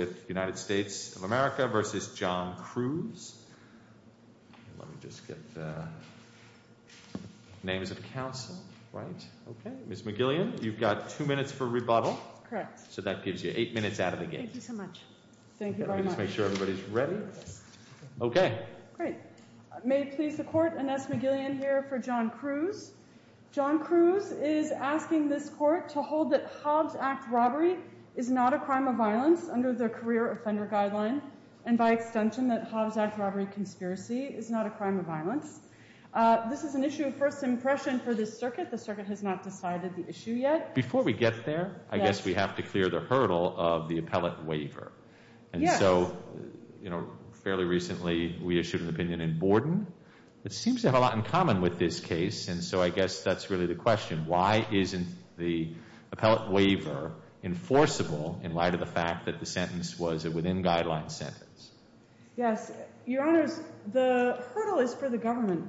with United States of America v. John Crews. Let me just get the names of the counsel right. Okay. Ms. McGillian, you've got two minutes for rebuttal. Correct. So that gives you eight minutes out of the game. Thank you so much. Thank you very much. Let me just make sure everybody's ready. Yes. Okay. Great. May it please the court, Annette McGillian here for John Crews. John Crews is asking this court to hold that Hobbs Act robbery is not a crime of violence under the career offender guideline and by extension that Hobbs Act robbery conspiracy is not a crime of violence. This is an issue of first impression for this circuit. The circuit has not decided the issue yet. Before we get there, I guess we have to clear the hurdle of the appellate waiver. Yes. And so, you know, fairly recently we issued an opinion in Borden that seems to have a lot in common with this case. And so I guess that's really the question. Why isn't the appellate waiver enforceable in light of the fact that the sentence was a within guideline sentence? Yes. Your Honors, the hurdle is for the government.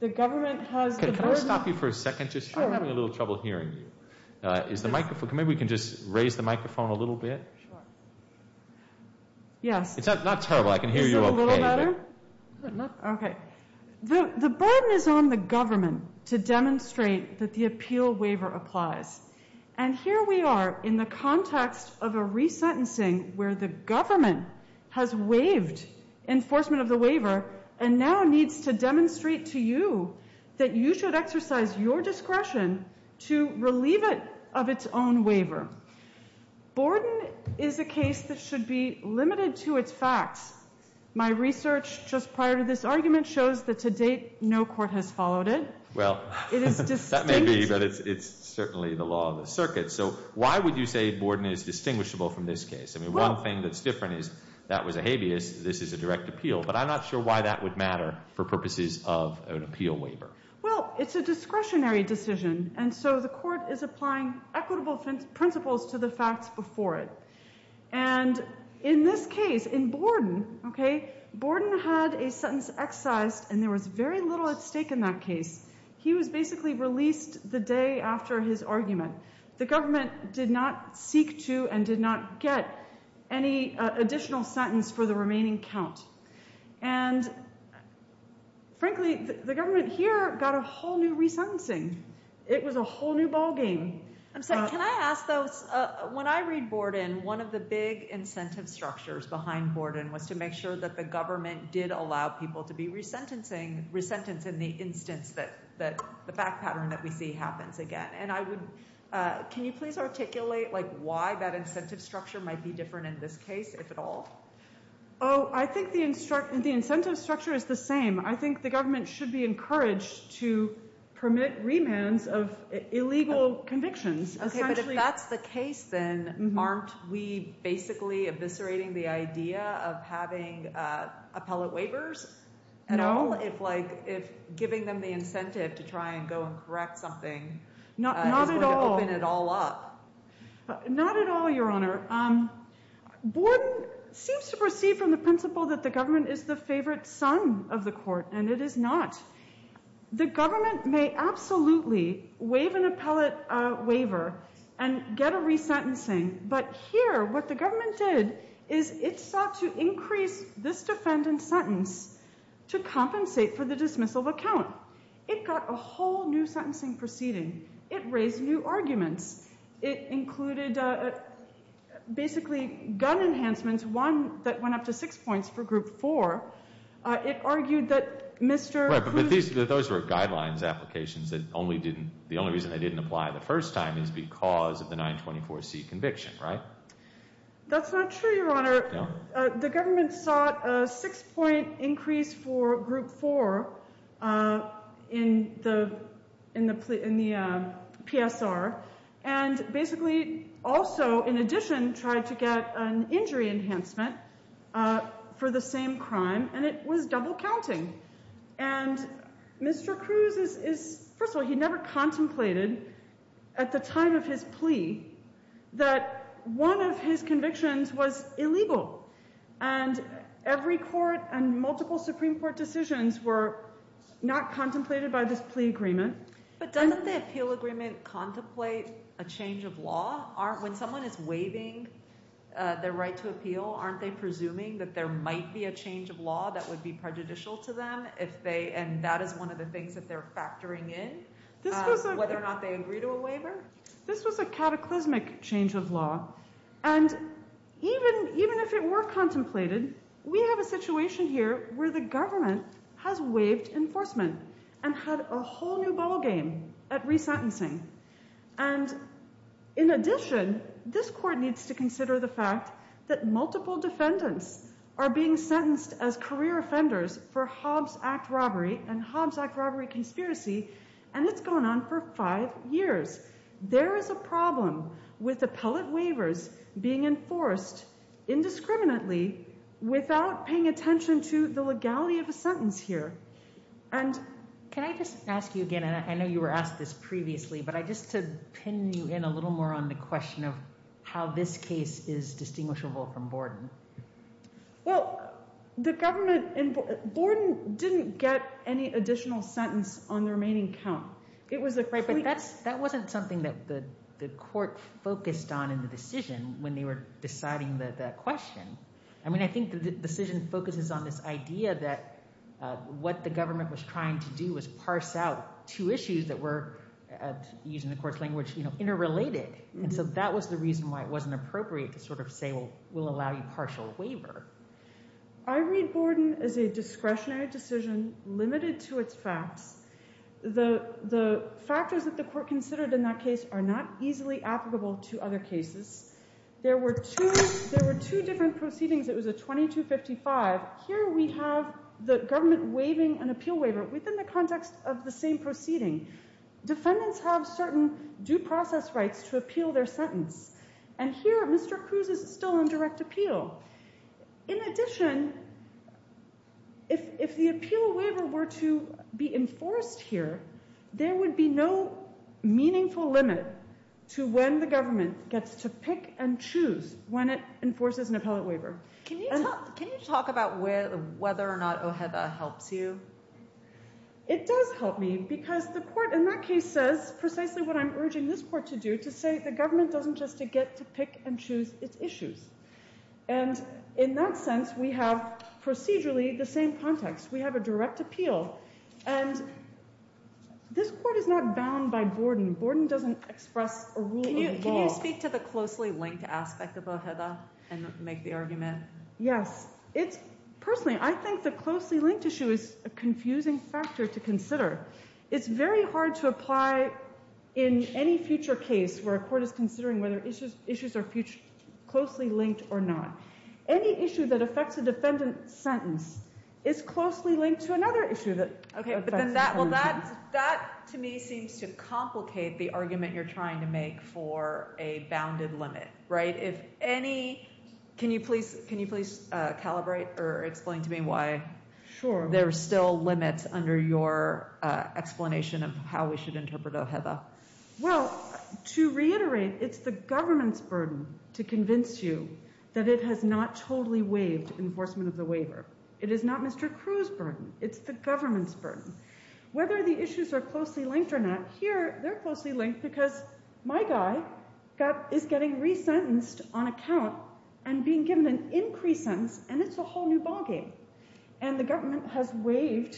The government has the burden... Can I stop you for a second? Sure. Just having a little trouble hearing you. Is the microphone... Maybe we can just raise the microphone a little bit. Sure. Yes. It's not terrible. I can hear you okay. Is it a little better? Okay. The burden is on the government to demonstrate that the appeal waiver applies. And here we are in the context of a resentencing where the government has waived enforcement of the waiver and now needs to demonstrate to you that you should exercise your discretion to relieve it of its own waiver. Borden is a case that should be limited to its facts. My research just prior to this argument shows that to date no court has followed it. Well, that may be, but it's certainly the law of the circuit. So why would you say Borden is distinguishable from this case? I mean, one thing that's different is that was a habeas, this is a direct appeal. But I'm not sure why that would matter for purposes of an appeal waiver. Well, it's a discretionary decision. And so the court is applying equitable principles to the facts before it. And in this case, in Borden, okay, Borden had a sentence excised and there was very little at stake in that case. He was basically released the day after his argument. The government did not seek to and did not get any additional sentence for the remaining count. And frankly, the government here got a whole new resentencing. It was a whole new ballgame. I'm sorry, can I ask though, when I read Borden, one of the big incentive structures behind Borden was to make sure that the government did allow people to be resentenced in the instance that the fact pattern that we see happens again. And can you please articulate why that incentive structure might be different in this case, if at all? Oh, I think the incentive structure is the same. I think the government should be encouraged to permit remands of illegal convictions. Okay, but if that's the case, then aren't we basically eviscerating the idea of having appellate waivers at all? No. If giving them the incentive to try and go and correct something is going to open it all up? Not at all. Not at all, Your Honor. Borden seems to perceive from the principle that the government is the favorite son of the court, and it is not. The government may absolutely waive an appellate waiver and get a resentencing, but here what the government did is it sought to increase this defendant's sentence to compensate for the dismissal of a count. It got a whole new sentencing proceeding. It raised new arguments. It included basically gun enhancements, one that went up to six points for Group 4. It argued that Mr. Cruz Right, but those were guidelines applications. The only reason they didn't apply the first time is because of the 924C conviction, right? That's not true, Your Honor. No? The government sought a six-point increase for Group 4 in the PSR, and basically also in addition tried to get an injury enhancement for the same crime, and it was double counting. And Mr. Cruz is, first of all, he never contemplated at the time of his plea that one of his convictions was illegal. And every court and multiple Supreme Court decisions were not contemplated by this plea agreement. But doesn't the appeal agreement contemplate a change of law? When someone is waiving their right to appeal, aren't they presuming that there might be a change of law that would be prejudicial to them, and that is one of the things that they're factoring in, whether or not they agree to a waiver? This was a cataclysmic change of law. And even if it were contemplated, we have a situation here where the government has waived enforcement and had a whole new ballgame at resentencing. And in addition, this court needs to consider the fact that multiple defendants are being sentenced as career offenders for Hobbs Act robbery and Hobbs Act robbery conspiracy, and it's gone on for five years. There is a problem with appellate waivers being enforced indiscriminately without paying attention to the legality of a sentence here. And can I just ask you again, and I know you were asked this previously, but just to pin you in a little more on the question of how this case is distinguishable from Borden. Well, the government in Borden didn't get any additional sentence on the remaining count. But that wasn't something that the court focused on in the decision when they were deciding the question. I mean, I think the decision focuses on this idea that what the government was trying to do was parse out two issues that were, using the court's language, interrelated. And so that was the reason why it wasn't appropriate to sort of say, well, we'll allow you partial waiver. I read Borden as a discretionary decision limited to its facts. The factors that the court considered in that case are not easily applicable to other cases. There were two different proceedings. It was a 2255. Here we have the government waiving an appeal waiver within the context of the same proceeding. Defendants have certain due process rights to appeal their sentence. And here Mr. Cruz is still on direct appeal. In addition, if the appeal waiver were to be enforced here, there would be no meaningful limit to when the government gets to pick and choose when it enforces an appellate waiver. Can you talk about whether or not OHEVA helps you? It does help me because the court in that case says precisely what I'm urging this court to do, to say the government doesn't just get to pick and choose its issues. And in that sense, we have procedurally the same context. We have a direct appeal. And this court is not bound by Borden. Borden doesn't express a rule of law. Can you speak to the closely linked aspect of OHEVA and make the argument? Yes. Personally, I think the closely linked issue is a confusing factor to consider. It's very hard to apply in any future case where a court is considering whether issues are closely linked or not. Any issue that affects a defendant's sentence is closely linked to another issue that affects a defendant's sentence. That to me seems to complicate the argument you're trying to make for a bounded limit. Can you please calibrate or explain to me why there are still limits under your explanation of how we should interpret OHEVA? Well, to reiterate, it's the government's burden to convince you that it has not totally waived enforcement of the waiver. It is not Mr. Crew's burden. It's the government's burden. Whether the issues are closely linked or not, here they're closely linked because my guy is getting resentenced on account and being given an increased sentence. And it's a whole new ballgame. And the government has waived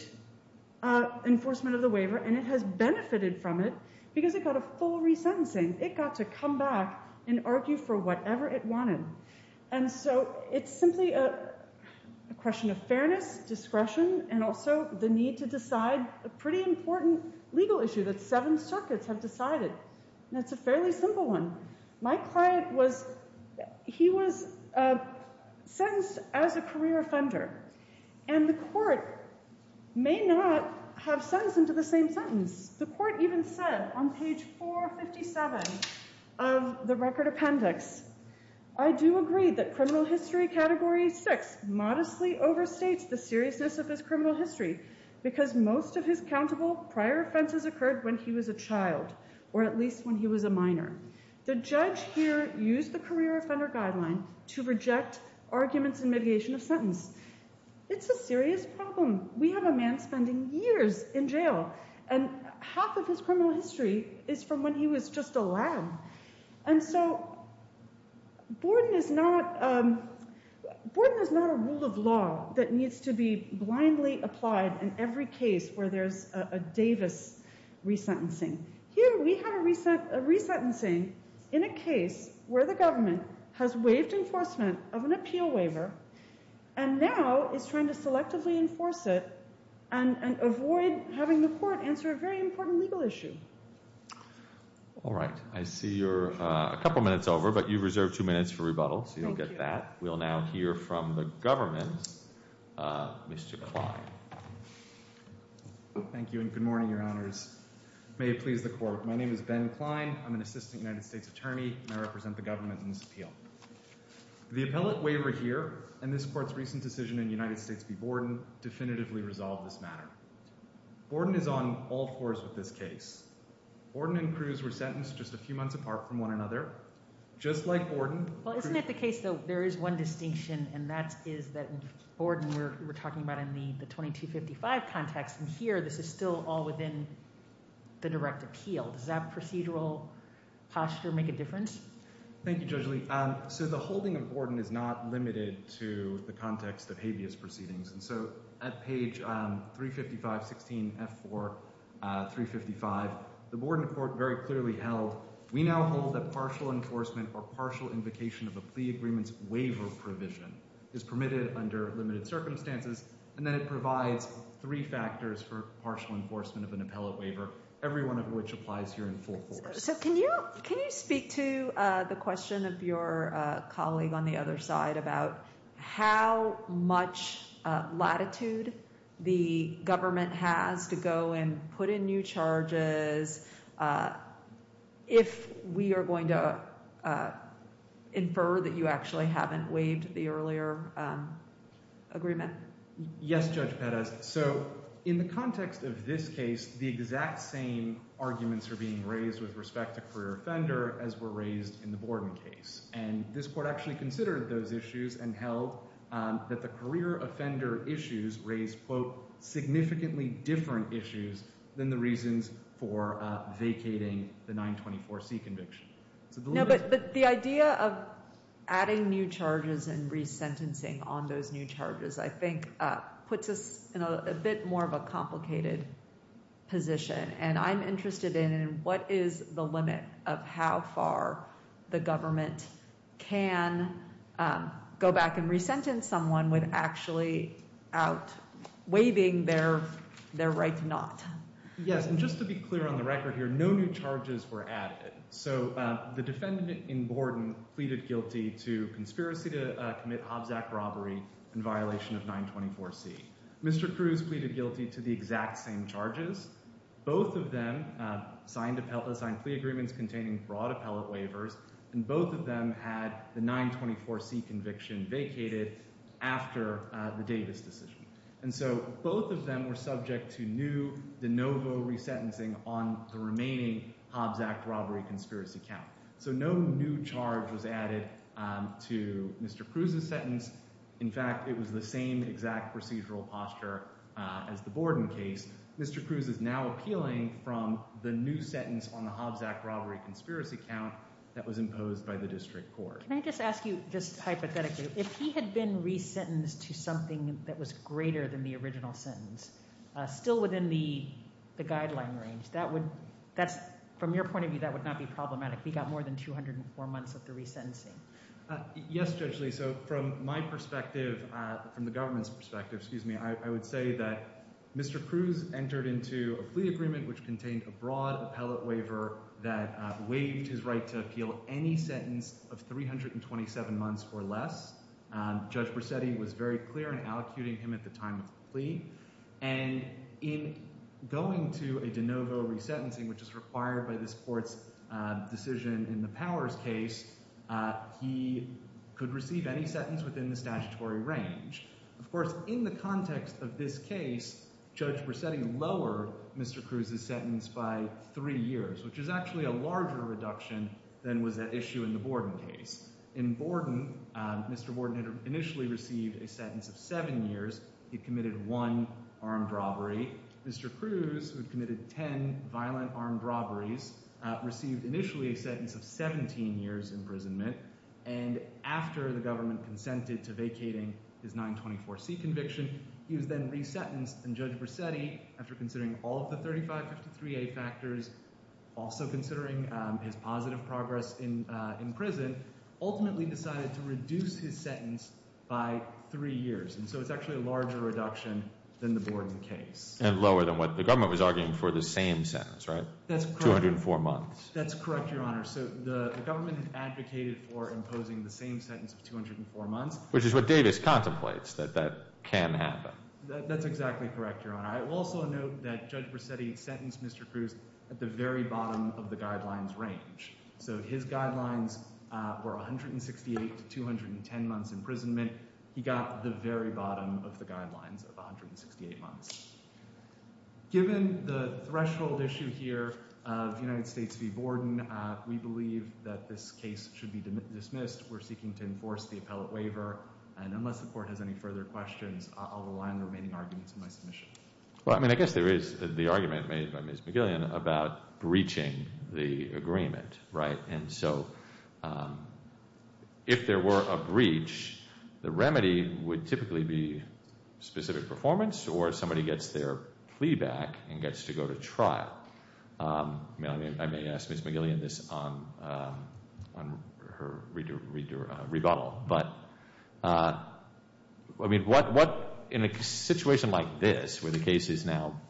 enforcement of the waiver and it has benefited from it because it got a full resentencing. It got to come back and argue for whatever it wanted. And so it's simply a question of fairness, discretion, and also the need to decide a pretty important legal issue that seven circuits have decided. And it's a fairly simple one. My client, he was sentenced as a career offender. And the court may not have sentenced him to the same sentence. The court even said on page 457 of the record appendix, I do agree that criminal history category 6 modestly overstates the seriousness of his criminal history because most of his countable prior offenses occurred when he was a child, or at least when he was a minor. The judge here used the career offender guideline to reject arguments in mitigation of sentence. It's a serious problem. We have a man spending years in jail and half of his criminal history is from when he was just a lad. And so Borden is not a rule of law that needs to be blindly applied in every case where there's a Davis resentencing. Here we have a resentencing in a case where the government has waived enforcement of an appeal waiver and now is trying to selectively enforce it and avoid having the court answer a very important legal issue. All right. I see you're a couple minutes over, but you've reserved two minutes for rebuttal, so you'll get that. We'll now hear from the government. Mr. Klein. Thank you and good morning, Your Honors. May it please the court. My name is Ben Klein. I'm an assistant United States attorney and I represent the government in this appeal. The appellate waiver here and this court's recent decision in United States v. Borden definitively resolved this matter. Borden is on all fours with this case. Borden and Cruz were sentenced just a few months apart from one another. Just like Borden. Well, isn't it the case, though, there is one distinction and that is that Borden we're talking about in the 2255 context and here this is still all within the direct appeal. Does that procedural posture make a difference? Thank you, Judge Lee. So the holding of Borden is not limited to the context of habeas proceedings. And so at page 355, 16, F4, 355, the Borden court very clearly held, we now hold that partial enforcement or partial invocation of a plea agreement's waiver provision is permitted under limited circumstances. And then it provides three factors for partial enforcement of an appellate waiver, every one of which applies here in full force. So can you speak to the question of your colleague on the other side about how much latitude the government has to go and put in new charges if we are going to infer that you actually haven't waived the earlier agreement? Yes, Judge Pettis. So in the context of this case, the exact same arguments are being raised with respect to career offender as were raised in the Borden case. And this court actually considered those issues and held that the career offender issues raised, quote, significantly different issues than the reasons for vacating the 924C conviction. But the idea of adding new charges and resentencing on those new charges, I think, puts us in a bit more of a complicated position. And I'm interested in what is the limit of how far the government can go back and resentence someone with actually out waiving their right to not. Yes, and just to be clear on the record here, no new charges were added. So the defendant in Borden pleaded guilty to conspiracy to commit Hobbs Act robbery in violation of 924C. Mr. Cruz pleaded guilty to the exact same charges. Both of them signed plea agreements containing broad appellate waivers. And both of them had the 924C conviction vacated after the Davis decision. And so both of them were subject to new de novo resentencing on the remaining Hobbs Act robbery conspiracy count. So no new charge was added to Mr. Cruz's sentence. In fact, it was the same exact procedural posture as the Borden case. Mr. Cruz is now appealing from the new sentence on the Hobbs Act robbery conspiracy count that was imposed by the district court. Can I just ask you just hypothetically, if he had been resentenced to something that was greater than the original sentence, still within the guideline range, from your point of view, that would not be problematic. He got more than 204 months of the resentencing. Yes, Judge Lee. So from my perspective, from the government's perspective, excuse me, I would say that Mr. Cruz entered into a plea agreement which contained a broad appellate waiver that waived his right to appeal any sentence of 327 months or less. Judge Brissetti was very clear in allocuting him at the time of the plea. And in going to a de novo resentencing, which is required by this court's decision in the Powers case, he could receive any sentence within the statutory range. Of course, in the context of this case, Judge Brissetti lowered Mr. Cruz's sentence by three years, which is actually a larger reduction than was at issue in the Borden case. In Borden, Mr. Borden initially received a sentence of seven years. He committed one armed robbery. Mr. Cruz, who had committed 10 violent armed robberies, received initially a sentence of 17 years imprisonment. And after the government consented to vacating his 924C conviction, he was then resentenced. And Judge Brissetti, after considering all of the 3553A factors, also considering his positive progress in prison, ultimately decided to reduce his sentence by three years. And so it's actually a larger reduction than the Borden case. And lower than what the government was arguing for the same sentence, right? That's correct. 204 months. That's correct, Your Honor. So the government advocated for imposing the same sentence of 204 months. Which is what Davis contemplates, that that can happen. That's exactly correct, Your Honor. I will also note that Judge Brissetti sentenced Mr. Cruz at the very bottom of the guidelines range. So his guidelines were 168 to 210 months imprisonment. He got the very bottom of the guidelines of 168 months. Given the threshold issue here of United States v. Borden, we believe that this case should be dismissed. We're seeking to enforce the appellate waiver. And unless the court has any further questions, I'll rely on the remaining arguments in my submission. Well, I mean, I guess there is the argument made by Ms. McGillian about breaching the agreement, right? And so, if there were a breach, the remedy would typically be specific performance, or somebody gets their plea back and gets to go to trial. I mean, I may ask Ms. McGillian this on her rebuttal. But, I mean, what, in a situation like this, where the case is now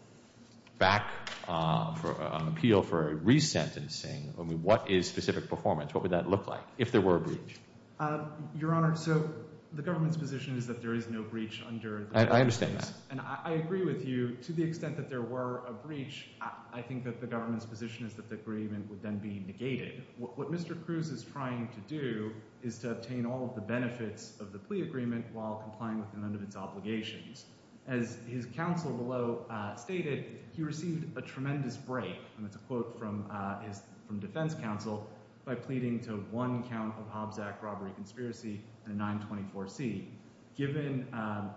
back on appeal for resentencing, I mean, what is specific performance? What would that look like, if there were a breach? Your Honor, so the government's position is that there is no breach under the— I understand that. And I agree with you. To the extent that there were a breach, I think that the government's position is that the agreement would then be negated. What Mr. Cruz is trying to do is to obtain all of the benefits of the plea agreement while complying with none of its obligations. As his counsel below stated, he received a tremendous break. And it's a quote from defense counsel, by pleading to one count of Hobbs Act robbery conspiracy and a 924C. Given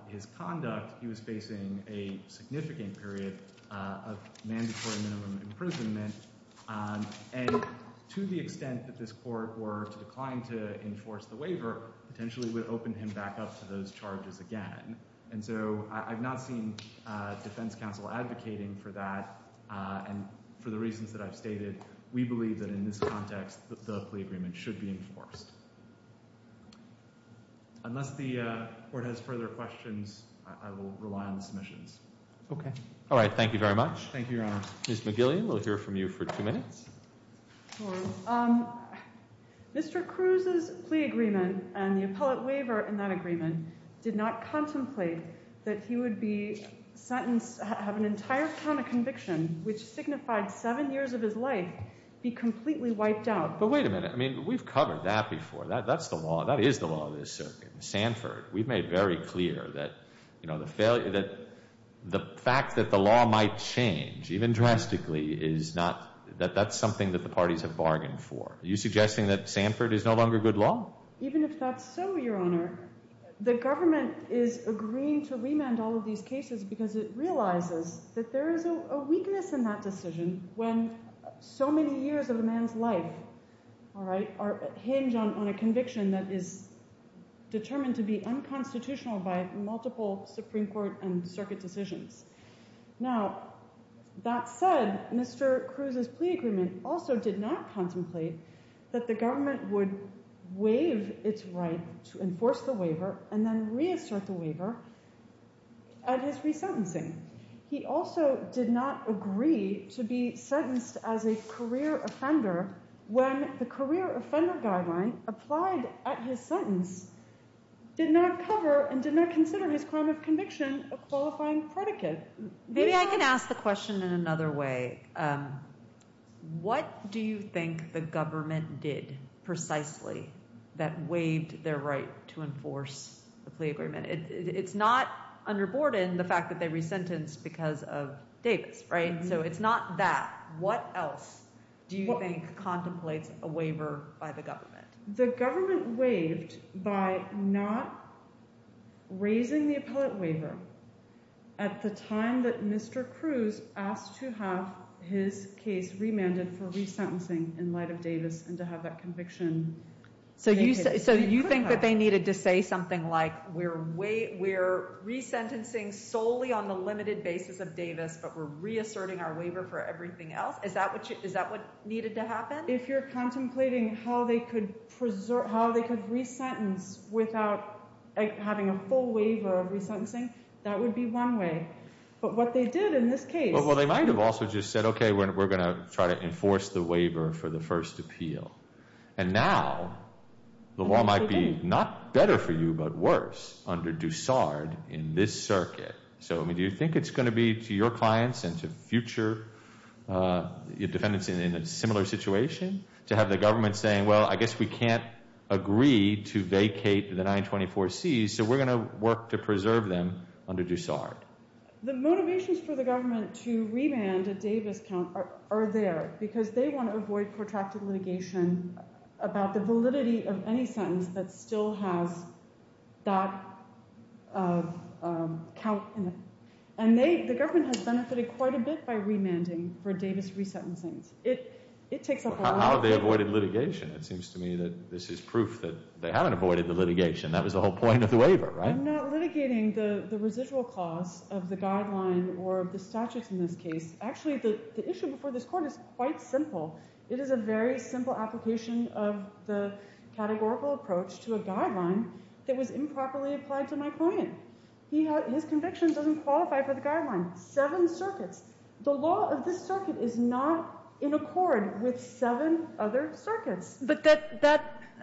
his conduct, he was facing a significant period of mandatory minimum imprisonment. And to the extent that this court were to decline to enforce the waiver, potentially would open him back up to those charges again. And so I've not seen defense counsel advocating for that. And for the reasons that I've stated, we believe that in this context, the plea agreement should be enforced. Unless the court has further questions, I will rely on the submissions. Okay. All right. Thank you very much. Thank you, Your Honor. Ms. McGillian, we'll hear from you for two minutes. Mr. Cruz's plea agreement and the appellate waiver in that agreement did not contemplate that he would be sentenced, have an entire count of conviction, which signified seven years of his life, be completely wiped out. But wait a minute. I mean, we've covered that before. That's the law. That is the law of this circuit in Sanford. We've made very clear that the fact that the law might change, even drastically, that that's something that the parties have bargained for. Are you suggesting that Sanford is no longer good law? Even if that's so, Your Honor, the government is agreeing to remand all of these cases because it realizes that there is a weakness in that decision when so many years of a man's life, all right, hinge on a conviction that is determined to be unconstitutional by multiple Supreme Court and circuit decisions. Now, that said, Mr. Cruz's plea agreement also did not contemplate that the government would waive its right to enforce the waiver and then reassert the waiver at his resentencing. He also did not agree to be sentenced as a career offender when the career offender guideline applied at his sentence did not cover and did not consider his crime of conviction a qualifying predicate. Maybe I can ask the question in another way. What do you think the government did precisely that waived their right to enforce the plea agreement? It's not underboard in the fact that they resentenced because of Davis, right? So it's not that. What else do you think contemplates a waiver by the government? The government waived by not raising the appellate waiver at the time that Mr. Cruz asked to have his case remanded for resentencing in light of Davis and to have that conviction. So you think that they needed to say something like but we're reasserting our waiver for everything else? Is that what needed to happen? If you're contemplating how they could resentence without having a full waiver of resentencing, that would be one way. But what they did in this case... Well, they might have also just said, okay, we're going to try to enforce the waiver for the first appeal. And now the law might be not better for you but worse under Dussard in this circuit. So do you think it's going to be to your clients and to future defendants in a similar situation to have the government saying, well, I guess we can't agree to vacate the 924C, so we're going to work to preserve them under Dussard? The motivations for the government to remand a Davis count are there because they want to avoid protracted litigation about the validity of any sentence that still has that count in it. And the government has benefited quite a bit by remanding for Davis resentencings. How have they avoided litigation? It seems to me that this is proof that they haven't avoided the litigation. That was the whole point of the waiver, right? I'm not litigating the residual cost of the guideline or of the statutes in this case. Actually, the issue before this court is quite simple. It is a very simple application of the categorical approach to a guideline that was improperly applied to my client. His conviction doesn't qualify for the guideline. Seven circuits. The law of this circuit is not in accord with seven other circuits. But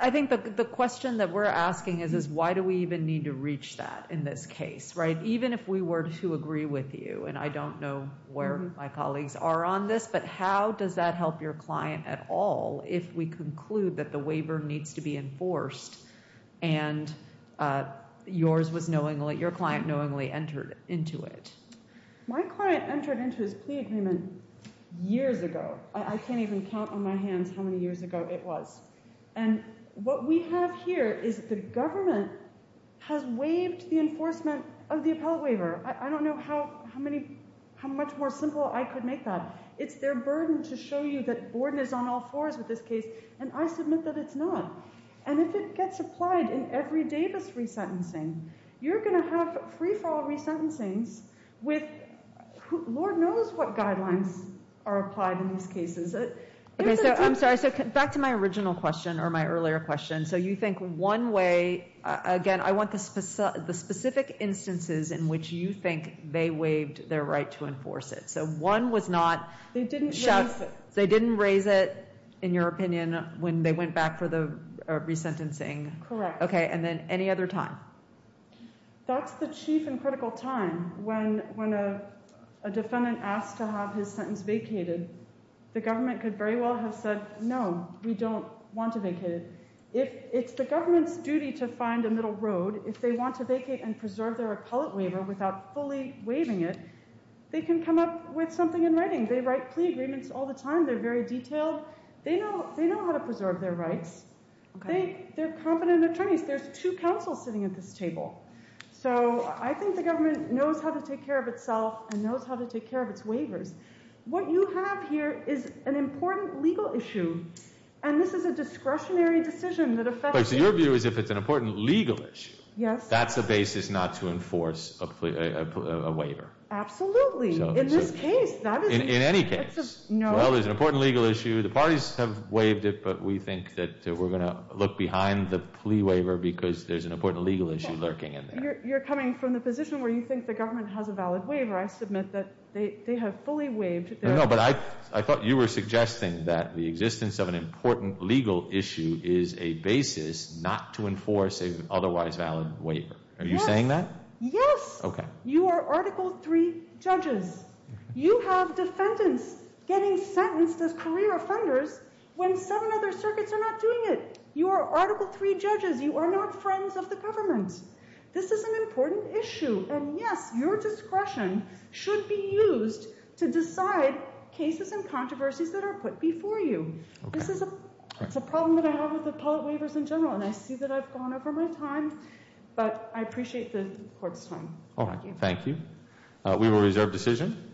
I think the question that we're asking is why do we even need to reach that in this case, right? Even if we were to agree with you, and I don't know where my colleagues are on this, but how does that help your client at all if we conclude that the waiver needs to be enforced and yours was knowingly, your client knowingly entered into it? My client entered into his plea agreement years ago. I can't even count on my hands how many years ago it was. And what we have here is the government has waived the enforcement of the appellate waiver. I don't know how much more simple I could make that. It's their burden to show you that Borden is on all fours with this case, and I submit that it's not. And if it gets applied in every Davis resentencing, you're going to have free-fall resentencings with Lord knows what guidelines are applied in these cases. Okay, so I'm sorry. So back to my original question or my earlier question. So you think one way, again, I want the specific instances in which you think they waived their right to enforce it. So one was not shut. They didn't raise it. They didn't raise it, in your opinion, when they went back for the resentencing. Correct. Okay, and then any other time? That's the chief and critical time. When a defendant asks to have his sentence vacated, the government could very well have said, no, we don't want to vacate it. If it's the government's duty to find a middle road, if they want to vacate and preserve their appellate waiver without fully waiving it, they can come up with something in writing. They write plea agreements all the time. They're very detailed. They know how to preserve their rights. They're competent attorneys. There's two counsels sitting at this table. So I think the government knows how to take care of itself and knows how to take care of its waivers. What you have here is an important legal issue, and this is a discretionary decision that affects it. My point of view is if it's an important legal issue, that's the basis not to enforce a waiver. Absolutely. In this case, that is the case. In any case. Well, there's an important legal issue. The parties have waived it, but we think that we're going to look behind the plea waiver because there's an important legal issue lurking in there. You're coming from the position where you think the government has a valid waiver. I submit that they have fully waived. I thought you were suggesting that the existence of an important legal issue is a basis not to enforce an otherwise valid waiver. Are you saying that? Yes. Okay. You are Article III judges. You have defendants getting sentenced as career offenders when seven other circuits are not doing it. You are Article III judges. You are not friends of the government. This is an important issue. Yes, your discretion should be used to decide cases and controversies that are put before you. This is a problem that I have with appellate waivers in general, and I see that I've gone over my time, but I appreciate the court's time. Thank you. We will reserve decision.